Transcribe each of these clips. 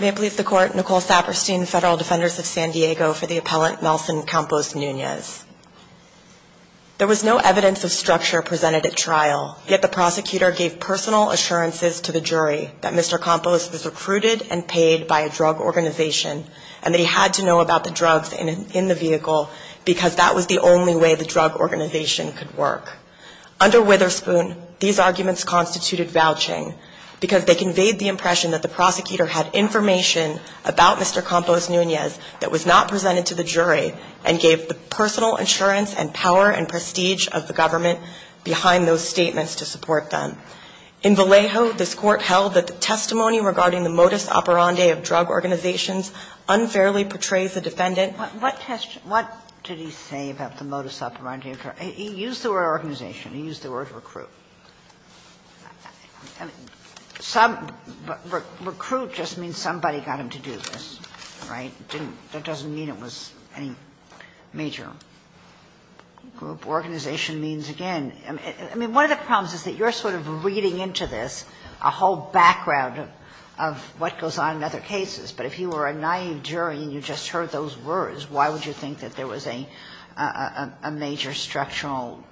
May it please the Court, Nicole Saperstein, Federal Defenders of San Diego, for the appellant Nelson Campos-Nunez. There was no evidence of structure presented at trial, yet the prosecutor gave personal assurances to the jury that Mr. Campos was recruited and paid by a drug organization, and that he had to know about the drugs in the vehicle because that was the only way the drug organization could work. Under Witherspoon, these arguments constituted vouching, because they conveyed the impression that the prosecutor had information about Mr. Campos-Nunez that was not presented to the jury and gave the personal assurance and power and prestige of the government behind those statements to support them. In Vallejo, this Court held that the testimony regarding the modus operandi of drug organizations unfairly portrays the defendant. Ginsburg. What did he say about the modus operandi? He used the word organization. He used the word recruit. And some – recruit just means somebody got him to do this, right? It didn't – that doesn't mean it was any major group. Organization means, again – I mean, one of the problems is that you're sort of reading into this a whole background of what goes on in other cases, but if you were a naive jury and you just heard those words, why would you think that there was a major structural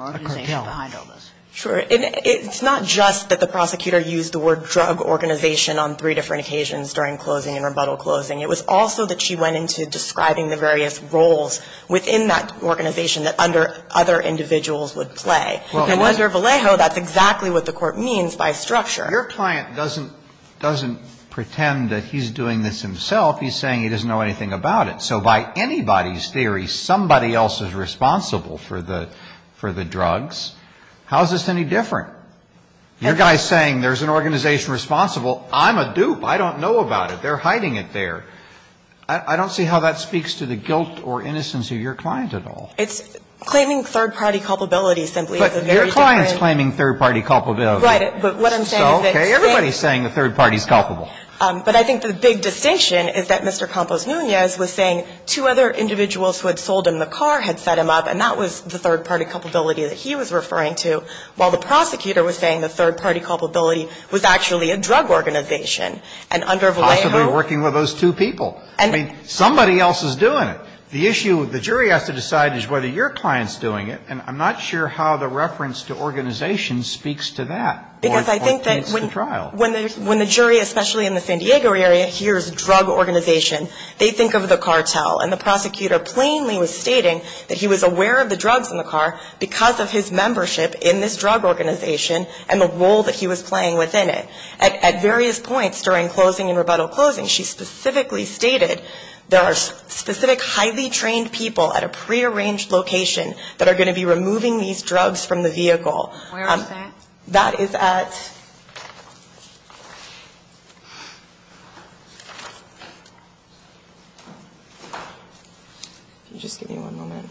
organization behind all this? Sure. And it's not just that the prosecutor used the word drug organization on three different occasions during closing and rebuttal closing. It was also that she went into describing the various roles within that organization that under other individuals would play. And under Vallejo, that's exactly what the Court means by structure. Your client doesn't – doesn't pretend that he's doing this himself. He's saying he doesn't know anything about it. So by anybody's theory, somebody else is responsible for the – for the drugs. How is this any different? Your guy's saying there's an organization responsible. I'm a dupe. I don't know about it. They're hiding it there. I don't see how that speaks to the guilt or innocence of your client at all. It's claiming third-party culpability simply is a very different – But your client's claiming third-party culpability. Right. But what I'm saying is that – It's okay. Everybody's saying the third party's culpable. But I think the big distinction is that Mr. Campos Nunez was saying two other individuals who had sold him the car had set him up, and that was the third-party culpability that he was referring to, while the prosecutor was saying the third-party culpability was actually a drug organization. And under Vallejo – Possibly working with those two people. I mean, somebody else is doing it. The issue – the jury has to decide is whether your client's doing it, and I'm not sure how the reference to organization speaks to that or paints the trial. Because I think that when the jury, especially in the San Diego area, hears drug organization, they think of the cartel. And the prosecutor plainly was stating that he was aware of the drugs in the car because of his membership in this drug organization and the role that he was playing within it. At various points during closing and rebuttal closing, she specifically stated there are specific highly trained people at a prearranged location that are going to be removing these drugs from the vehicle. Where is that? That is at – Can you just give me one moment?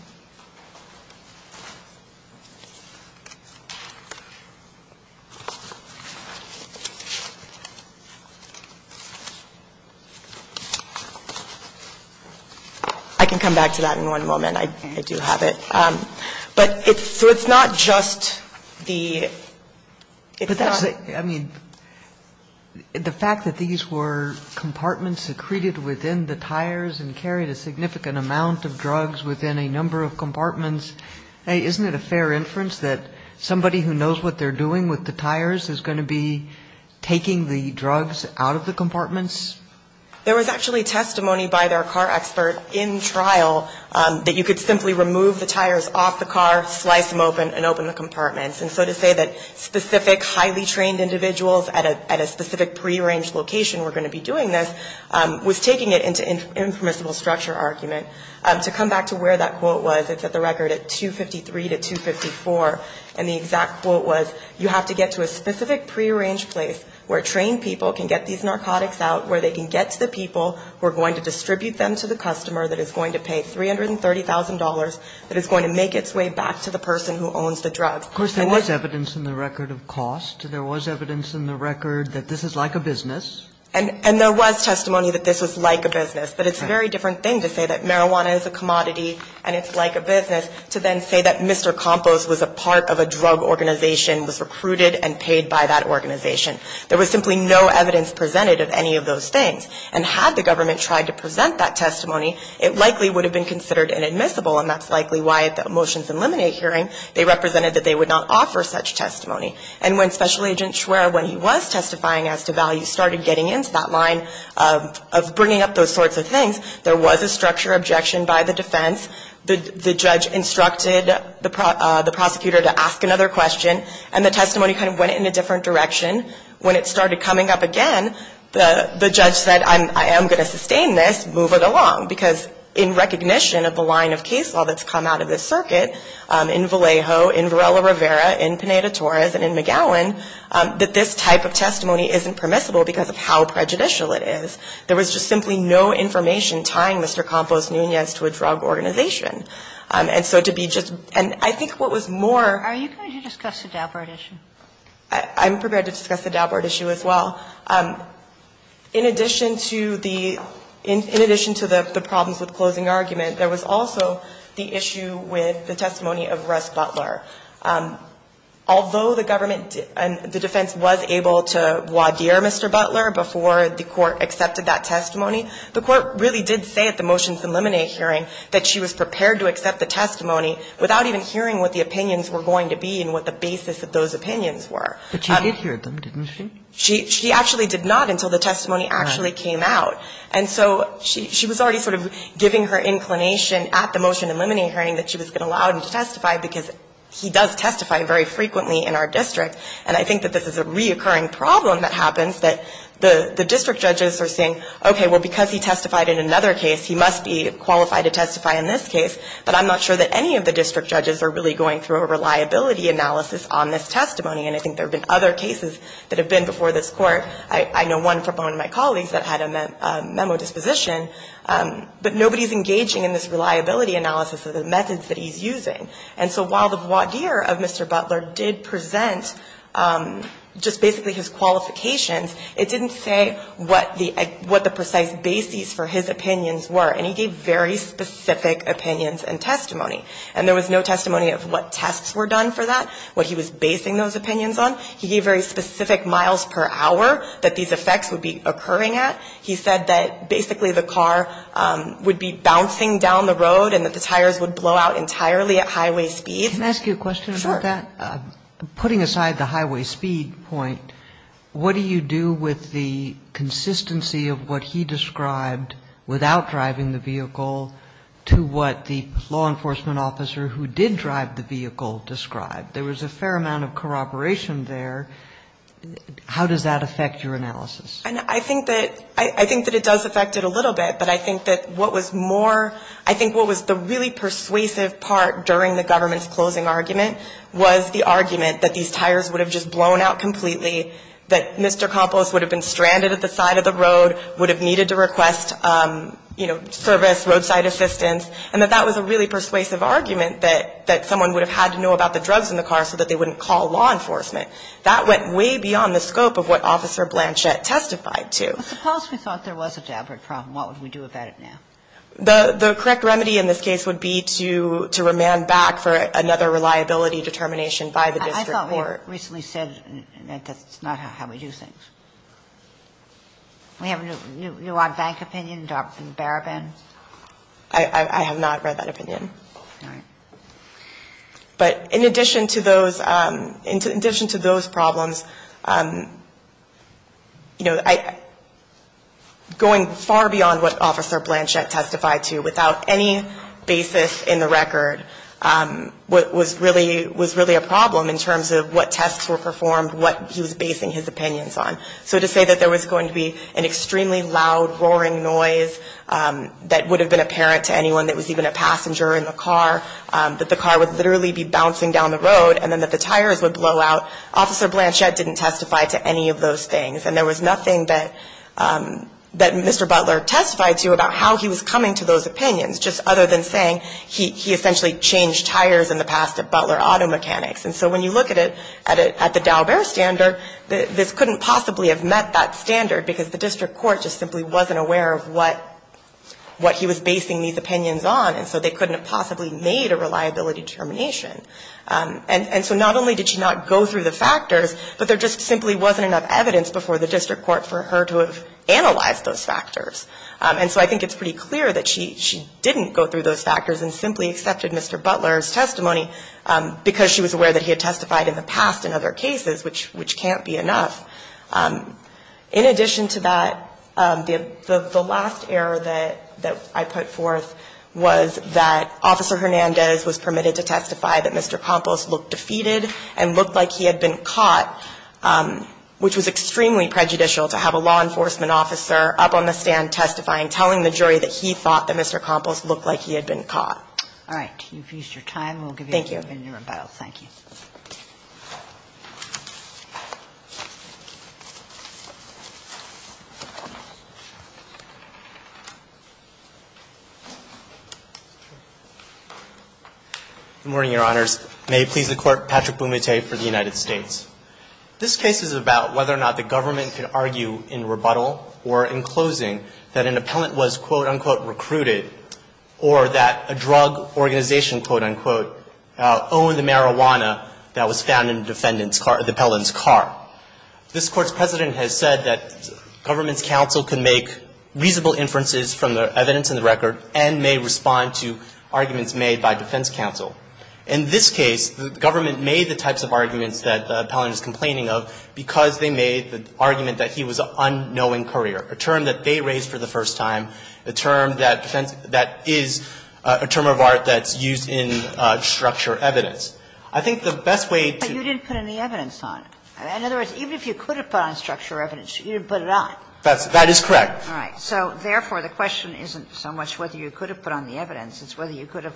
I can come back to that in one moment. I do have it. So it's not just the – I mean, the fact that these were compartments secreted within the tires and carried a significant amount of drugs within a number of compartments, isn't it a fair inference that somebody who knows what they're doing with the tires is going to be taking the drugs out of the compartments? There was actually testimony by their car expert in trial that you could simply remove the tires off the car, slice them open and open the compartments. And so to say that specific highly trained individuals at a specific prearranged location were going to be doing this was taking it into an impermissible structure argument. To come back to where that quote was, it's at the record at 253 to 254. And the exact quote was, you have to get to a specific prearranged place where trained people can get these narcotics out, where they can get to the people who are going to distribute them to the customer that is going to pay $330,000, that is going to make its way back to the person who owns the drugs. Of course, there was evidence in the record of cost. There was evidence in the record that this is like a business. And there was testimony that this was like a business. But it's a very different thing to say that marijuana is a commodity and it's like a business to then say that Mr. Campos was a part of a drug organization, was recruited and paid by that organization. There was simply no evidence presented of any of those things. And had the government tried to present that testimony, it likely would have been considered inadmissible. And that's likely why at the Motions Eliminate hearing, they represented that they would not offer such testimony. And when Special Agent Schwerer, when he was testifying as to value, started getting into that line of bringing up those sorts of things, there was a structure objection by the defense. The judge instructed the prosecutor to ask another question, and the testimony kind of went in a different direction. When it started coming up again, the judge said, I am going to sustain this. Move it along. Because in recognition of the line of case law that's come out of this circuit in Vallejo, in Varela Rivera, in Pineda Torres, and in McGowan, that this type of testimony isn't permissible because of how prejudicial it is. There was just simply no information tying Mr. Campos Nunez to a drug organization. And so to be just – and I think what was more – I'm prepared to discuss the Daubard issue as well. In addition to the – in addition to the problems with closing argument, there was also the issue with the testimony of Russ Butler. Although the government – the defense was able to voir dire Mr. Butler before the court accepted that testimony, the court really did say at the Motions Eliminate hearing that she was prepared to accept the testimony without even hearing what the judge's opinions were. But she did hear them, didn't she? She actually did not until the testimony actually came out. And so she was already sort of giving her inclination at the Motion Eliminate hearing that she was going to allow him to testify because he does testify very frequently in our district. And I think that this is a reoccurring problem that happens, that the district judges are saying, okay, well, because he testified in another case, he must be qualified to testify in this case. But I'm not sure that any of the district judges are really going through a reliability analysis on this testimony. And I think there have been other cases that have been before this Court. I know one from one of my colleagues that had a memo disposition. But nobody is engaging in this reliability analysis of the methods that he's using. And so while the voir dire of Mr. Butler did present just basically his qualifications, it didn't say what the – what the precise bases for his opinions were. And he gave very specific opinions and testimony. And there was no testimony of what tests were done for that, what he was basing those opinions on. He gave very specific miles per hour that these effects would be occurring at. He said that basically the car would be bouncing down the road and that the tires would blow out entirely at highway speeds. Sotomayor. Can I ask you a question about that? Sure. Putting aside the highway speed point, what do you do with the consistency of what he described without driving the vehicle to what the law enforcement officer who did drive the vehicle described? There was a fair amount of corroboration there. How does that affect your analysis? And I think that – I think that it does affect it a little bit. But I think that what was more – I think what was the really persuasive part during the government's closing argument was the argument that these tires would have just blown out completely, that Mr. Campos would have been stranded at the other side of the road, would have needed to request, you know, service, roadside assistance, and that that was a really persuasive argument that someone would have had to know about the drugs in the car so that they wouldn't call law enforcement. That went way beyond the scope of what Officer Blanchett testified to. But suppose we thought there was a jabbering problem. What would we do about it now? The correct remedy in this case would be to remand back for another reliability determination by the district court. I thought we had recently said that that's not how we do things. Do we have a new odd bank opinion, Dr. Barabin? I have not read that opinion. All right. But in addition to those – in addition to those problems, you know, going far beyond what Officer Blanchett testified to without any basis in the record was really a problem in terms of what tests were performed, what he was basing his opinions on. So to say that there was going to be an extremely loud, roaring noise that would have been apparent to anyone that was even a passenger in the car, that the car would literally be bouncing down the road, and then that the tires would blow out, Officer Blanchett didn't testify to any of those things. And there was nothing that Mr. Butler testified to about how he was coming to those opinions, just other than saying he essentially changed tires in the past at Butler Auto Mechanics. And so when you look at it at the Daubert standard, this couldn't possibly have met that standard, because the district court just simply wasn't aware of what he was basing these opinions on, and so they couldn't have possibly made a reliability determination. And so not only did she not go through the factors, but there just simply wasn't enough evidence before the district court for her to have analyzed those factors. And so I think it's pretty clear that she didn't go through those factors and simply accepted Mr. Butler's testimony, because she was aware that he had testified in the past in other cases, which can't be enough. In addition to that, the last error that I put forth was that Officer Hernandez was permitted to testify that Mr. Campos looked defeated and looked like he had been caught, which was extremely prejudicial to have a law enforcement officer up on the All right. You've used your time. Thank you. We'll give you a minute in rebuttal. Thank you. Good morning, Your Honors. May it please the Court. Patrick Bumate for the United States. This case is about whether or not the government could argue in rebuttal or in closing that an appellant was, quote, unquote, recruited, or that a drug organization, quote, unquote, owned the marijuana that was found in the defendant's car, the appellant's car. This Court's precedent has said that government's counsel can make reasonable inferences from the evidence in the record and may respond to arguments made by defense counsel. In this case, the government made the types of arguments that the appellant is complaining of because they made the argument that he was an unknowing courier, a term that they raised for the first time, a term that is a term of art that's used in structure evidence. I think the best way to But you didn't put any evidence on it. In other words, even if you could have put on structure evidence, you didn't put it on. That is correct. All right. So therefore, the question isn't so much whether you could have put on the evidence. It's whether you could have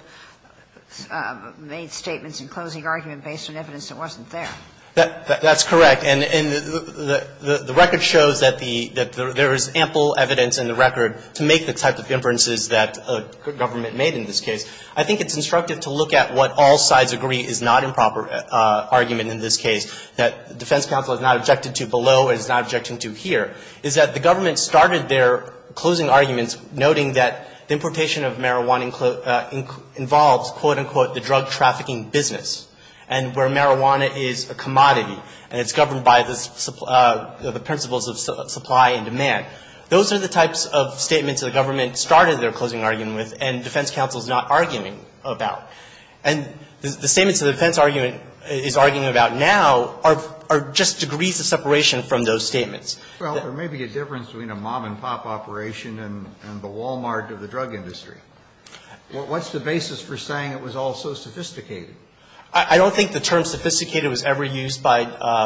made statements in closing argument based on evidence that wasn't there. That's correct. And the record shows that there is ample evidence in the record to make the type of inferences that a government made in this case. I think it's instructive to look at what all sides agree is not improper argument in this case, that defense counsel has not objected to below and is not objecting to here, is that the government started their closing arguments noting that the importation of marijuana involves, quote, unquote, the drug trafficking business. And where marijuana is a commodity and it's governed by the principles of supply and demand. Those are the types of statements that the government started their closing argument with and defense counsel is not arguing about. And the statements that the defense argument is arguing about now are just degrees of separation from those statements. Well, there may be a difference between a mom-and-pop operation and the Wal-Mart of the drug industry. What's the basis for saying it was all so sophisticated? I don't think the term sophisticated was ever used by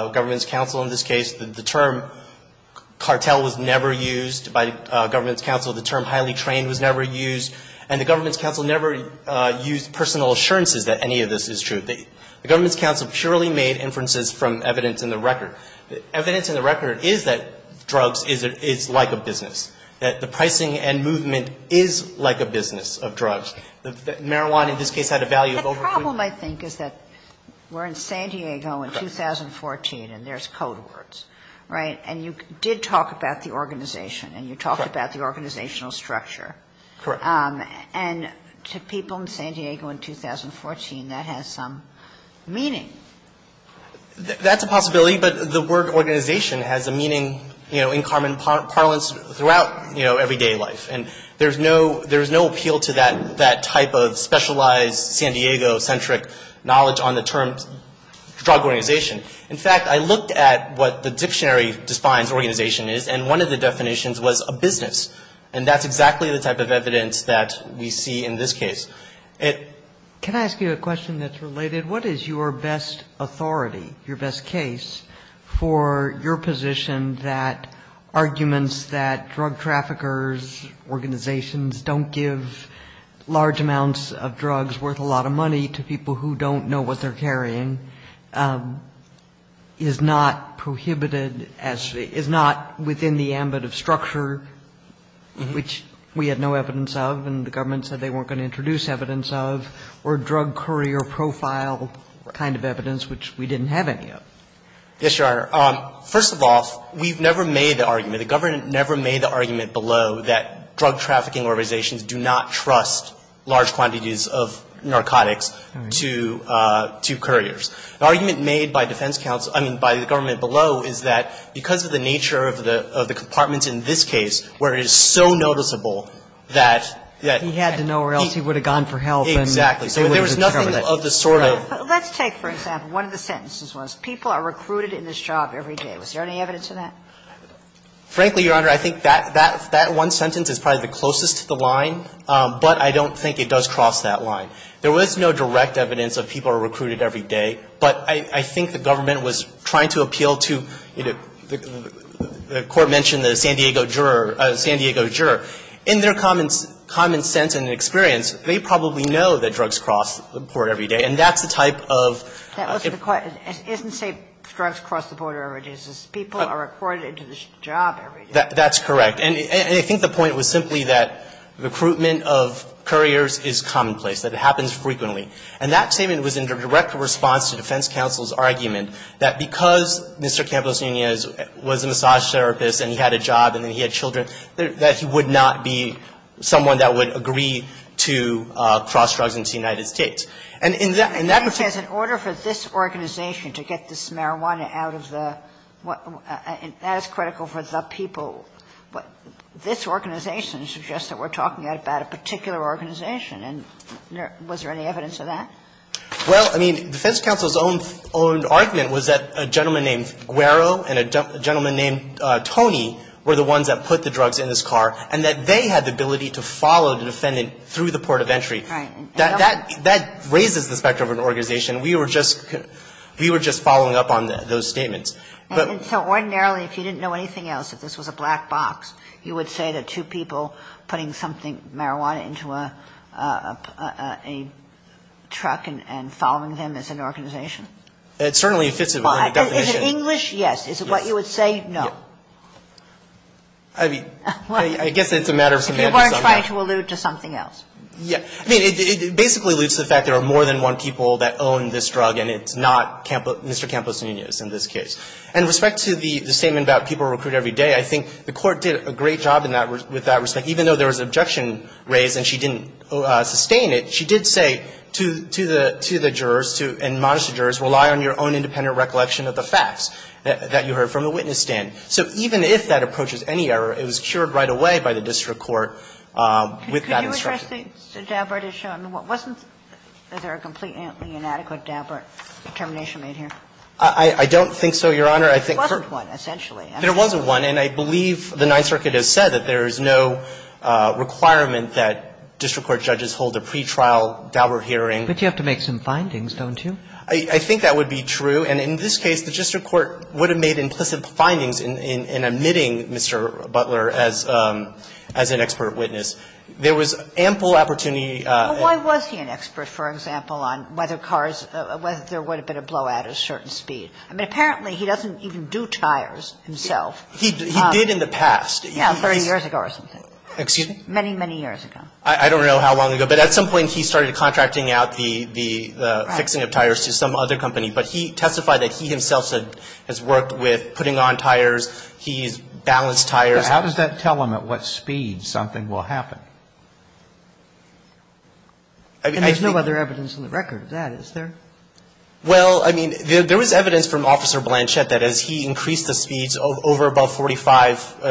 government's counsel in this case. The term cartel was never used by government's counsel. The term highly trained was never used. And the government's counsel never used personal assurances that any of this is true. The government's counsel purely made inferences from evidence in the record. Evidence in the record is that drugs is like a business, that the pricing and movement is like a business of drugs. Marijuana in this case had a value of over- The problem, I think, is that we're in San Diego in 2014 and there's code words, right? And you did talk about the organization and you talked about the organizational structure. Correct. And to people in San Diego in 2014, that has some meaning. That's a possibility, but the word organization has a meaning, you know, in common parlance throughout, you know, everyday life. And there's no appeal to that type of specialized San Diego-centric knowledge on the term drug organization. In fact, I looked at what the dictionary defines organization is and one of the definitions was a business. And that's exactly the type of evidence that we see in this case. Can I ask you a question that's related? What is your best authority, your best case for your position that arguments that drug traffickers, organizations don't give large amounts of drugs worth a lot of money to people who don't know what they're carrying is not prohibited as to be, is not within the ambit of structure, which we had no evidence of and the government said they weren't going to introduce evidence of, or drug courier profile kind of evidence, which we didn't have any of? Yes, Your Honor. First of all, we've never made the argument, the government never made the argument below that drug trafficking organizations do not trust large quantities of narcotics to couriers. The argument made by defense counsel, I mean, by the government below is that because of the nature of the compartments in this case where it is so noticeable that he had Exactly. So there was nothing of the sort of Let's take, for example, one of the sentences was people are recruited in this job every day. Was there any evidence of that? Frankly, Your Honor, I think that one sentence is probably the closest to the line. But I don't think it does cross that line. There was no direct evidence of people are recruited every day. But I think the government was trying to appeal to, you know, the Court mentioned the San Diego juror, San Diego juror. In their common sense and experience, they probably know that drugs cross the border every day, and that's the type of That wasn't the question. It doesn't say drugs cross the border every day. It says people are recruited to this job every day. That's correct. And I think the point was simply that recruitment of couriers is commonplace, that it happens frequently. And that statement was in direct response to defense counsel's argument that because Mr. Campos Nunez was a massage therapist and he had a job and then he had children, that he would not be someone that would agree to cross drugs into the United States. And in that respect In order for this organization to get this marijuana out of the – that is critical for the people. But this organization suggests that we're talking about a particular organization. And was there any evidence of that? Well, I mean, defense counsel's own argument was that a gentleman named Guero and a gentleman named Tony were the ones that put the drugs in his car, and that they had the ability to follow the defendant through the port of entry. Right. That raises the specter of an organization. We were just following up on those statements. And so ordinarily, if you didn't know anything else, if this was a black box, you would say that two people putting something, marijuana, into a truck and following them is an organization? It certainly fits the definition. Is it English? Yes. Is it what you would say? No. I mean, I guess it's a matter of semantics. You weren't trying to allude to something else. Yeah. I mean, it basically alludes to the fact there are more than one people that own this drug, and it's not Mr. Campos Nunez in this case. And with respect to the statement about people recruit every day, I think the Court did a great job in that – with that respect. Even though there was an objection raised and she didn't sustain it, she did say to the jurors and monister jurors, rely on your own independent recollection of the facts that you heard from the witness stand. So even if that approaches any error, it was cured right away by the district court with that instruction. Could you address the Dabbert issue? I mean, wasn't there a completely inadequate Dabbert determination made here? I don't think so, Your Honor. There wasn't one, essentially. There wasn't one. And I believe the Ninth Circuit has said that there is no requirement that district court judges hold a pretrial Dabbert hearing. But you have to make some findings, don't you? I think that would be true. And in this case, the district court would have made implicit findings in omitting Mr. Butler as an expert witness. There was ample opportunity. Well, why was he an expert, for example, on whether cars – whether there would have been a blowout at a certain speed? I mean, apparently he doesn't even do tires himself. He did in the past. Yeah, 30 years ago or something. Excuse me? Many, many years ago. I don't know how long ago, but at some point he started contracting out the fixing of tires to some other company. But he testified that he himself has worked with putting on tires. He's balanced tires. How does that tell him at what speed something will happen? And there's no other evidence on the record of that, is there? Well, I mean, there was evidence from Officer Blanchett that as he increased the speeds over about 45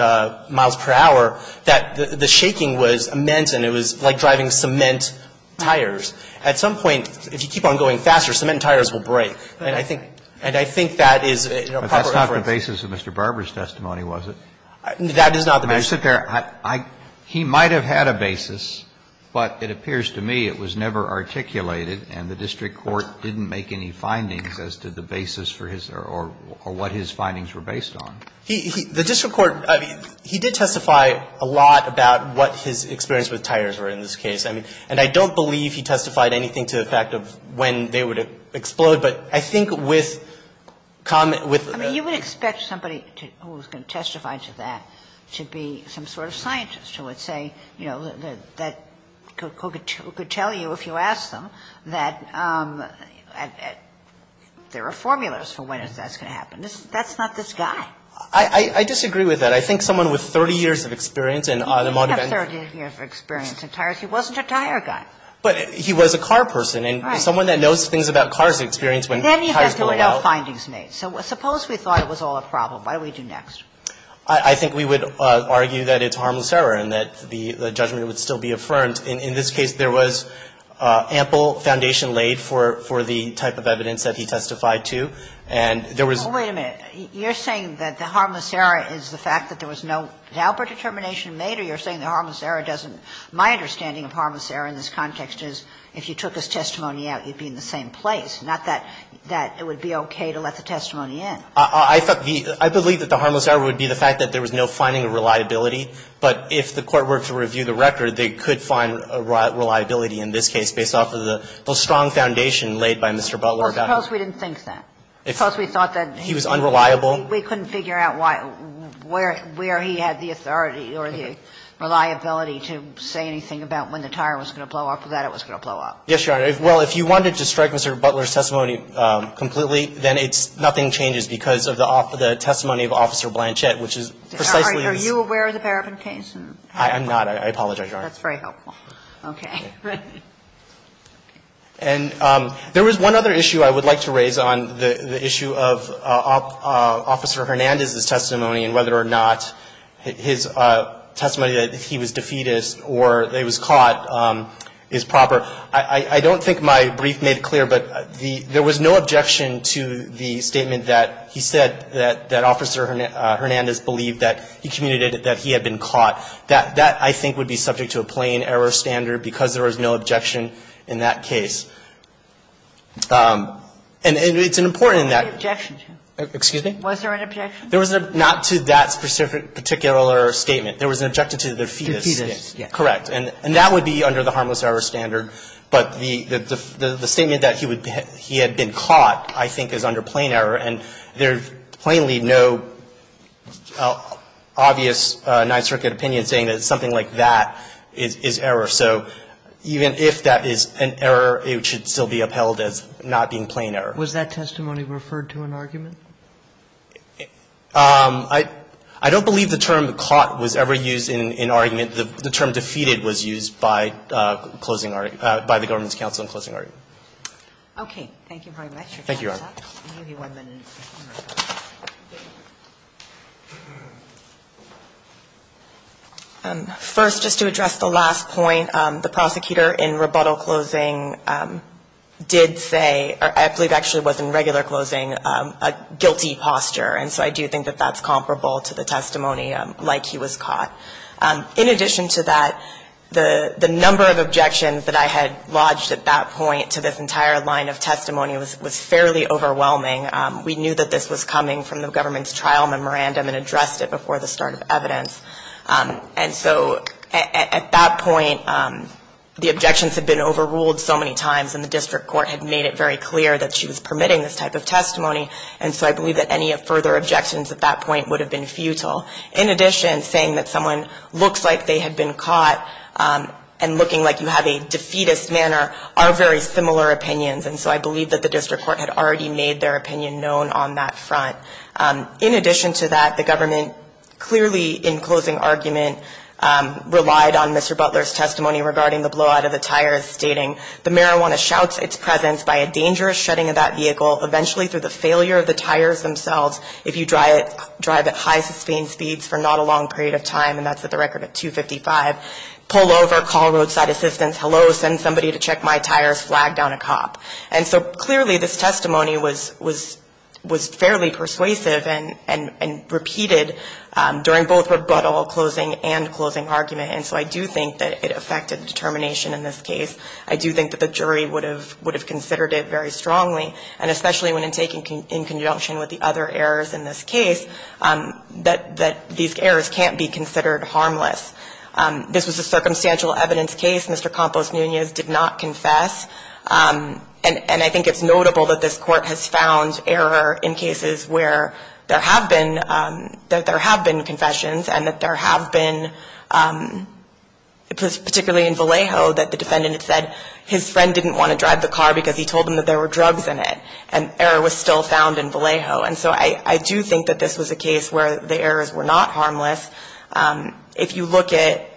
miles per hour, that the shaking was immense and it was like driving cement tires. At some point, if you keep on going faster, cement tires will break. And I think that is a proper evidence. But that's not the basis of Mr. Barber's testimony, was it? That is not the basis. I sit there. He might have had a basis, but it appears to me it was never articulated and the district court didn't make any findings as to the basis for his or what his findings were based on. The district court, I mean, he did testify a lot about what his experience with tires were in this case. And I don't believe he testified anything to the fact of when they would explode. But I think with comment, with the ---- I mean, you would expect somebody who was going to testify to that to be some sort of scientist who would say, you know, that could tell you if you ask them that there are formulas for when that's going to happen. That's not this guy. I disagree with that. I think someone with 30 years of experience in automotive ---- He didn't have 30 years of experience in tires. He wasn't a tire guy. But he was a car person. Right. And someone that knows things about car's experience when tires go out. And then you have to know findings made. So suppose we thought it was all a problem. What do we do next? I think we would argue that it's harmless error and that the judgment would still be affirmed. In this case, there was ample foundation laid for the type of evidence that he testified to. And there was ---- Wait a minute. You're saying that the harmless error is the fact that there was no Dauber determination made, or you're saying the harmless error doesn't ---- my understanding of harmless error in this context is if you took his testimony out, you'd be in the same place, not that it would be okay to let the testimony in. I thought the ---- I believe that the harmless error would be the fact that there was no finding of reliability. But if the Court were to review the record, they could find reliability in this case based off of the strong foundation laid by Mr. Butler about it. Well, suppose we didn't think that. Suppose we thought that he was unreliable. We couldn't figure out why ---- where he had the authority or the reliability to say anything about when the tire was going to blow up or that it was going to blow Yes, Your Honor. Well, if you wanted to strike Mr. Butler's testimony completely, then it's ---- nothing changes because of the testimony of Officer Blanchett, which is precisely ---- Are you aware of the Barabin case? I'm not. I apologize, Your Honor. That's very helpful. Okay. And there was one other issue I would like to raise on the issue of Officer Hernandez's testimony and whether or not his testimony that he was defeatist or that he was caught is proper. I don't think my brief made it clear, but there was no objection to the statement that he said that Officer Hernandez believed that he communicated that he had been caught. That, I think, would be subject to a plain error standard because there was no objection in that case. And it's important in that ---- What was the objection to? Excuse me? Was there an objection? There was not to that particular statement. There was an objection to defeatist. Defeatist, yes. And that would be under the harmless error standard. But the statement that he had been caught, I think, is under plain error. And there's plainly no obvious Ninth Circuit opinion saying that something like that is error. So even if that is an error, it should still be upheld as not being plain error. Was that testimony referred to an argument? I don't believe the term caught was ever used in argument. The term defeated was used by closing argument, by the government's counsel in closing argument. Okay. Thank you very much. Thank you, Your Honor. I'll give you one minute. First, just to address the last point, the prosecutor in rebuttal closing did say or I believe actually was in regular closing a guilty posture. And so I do think that that's comparable to the testimony like he was caught. In addition to that, the number of objections that I had lodged at that point to this entire line of testimony was fairly overwhelming. We knew that this was coming from the government's trial memorandum and addressed it before the start of evidence. And so at that point, the objections had been overruled so many times, and the district court had made it very clear that she was permitting this type of testimony. And so I believe that any further objections at that point would have been futile. In addition, saying that someone looks like they had been caught and looking like you have a defeatist manner are very similar opinions. And so I believe that the district court had already made their opinion known on that front. In addition to that, the government clearly in closing argument relied on Mr. Butler's testimony regarding the blowout of the tires, stating, the marijuana shouts its presence by a dangerous shredding of that vehicle, eventually through the failure of the tires themselves. If you drive at high sustained speeds for not a long period of time, and that's at the record at 255, pull over, call roadside assistance, hello, send somebody to check my tires, flag down a cop. And so clearly this testimony was fairly persuasive and repeated during both rebuttal closing and closing argument. And so I do think that it affected determination in this case. I do think that the jury would have considered it very strongly, and especially when taken in conjunction with the other errors in this case, that these errors can't be considered harmless. This was a circumstantial evidence case. Mr. Campos-Nunez did not confess. And I think it's notable that this court has found error in cases where there have been, that there have been confessions and that there have been, particularly in Vallejo that the defendant had said his friend didn't want to drive the car because he told him that there were drugs in it. And error was still found in Vallejo. And so I do think that this was a case where the errors were not harmless. If you look at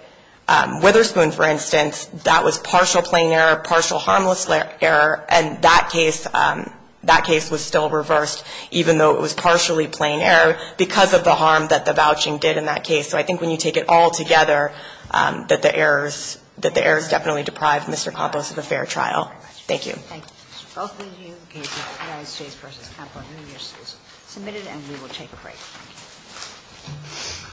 Witherspoon, for instance, that was partial plain error, partial harmless error. And that case was still reversed, even though it was partially plain error, because of the harm that the vouching did in that case. So I think when you take it all together, that the errors definitely deprived Mr. Campos of a fair trial. Thank you. Thank you. Both of these cases, United States v. Campos-Nunez, submitted, and we will take a break.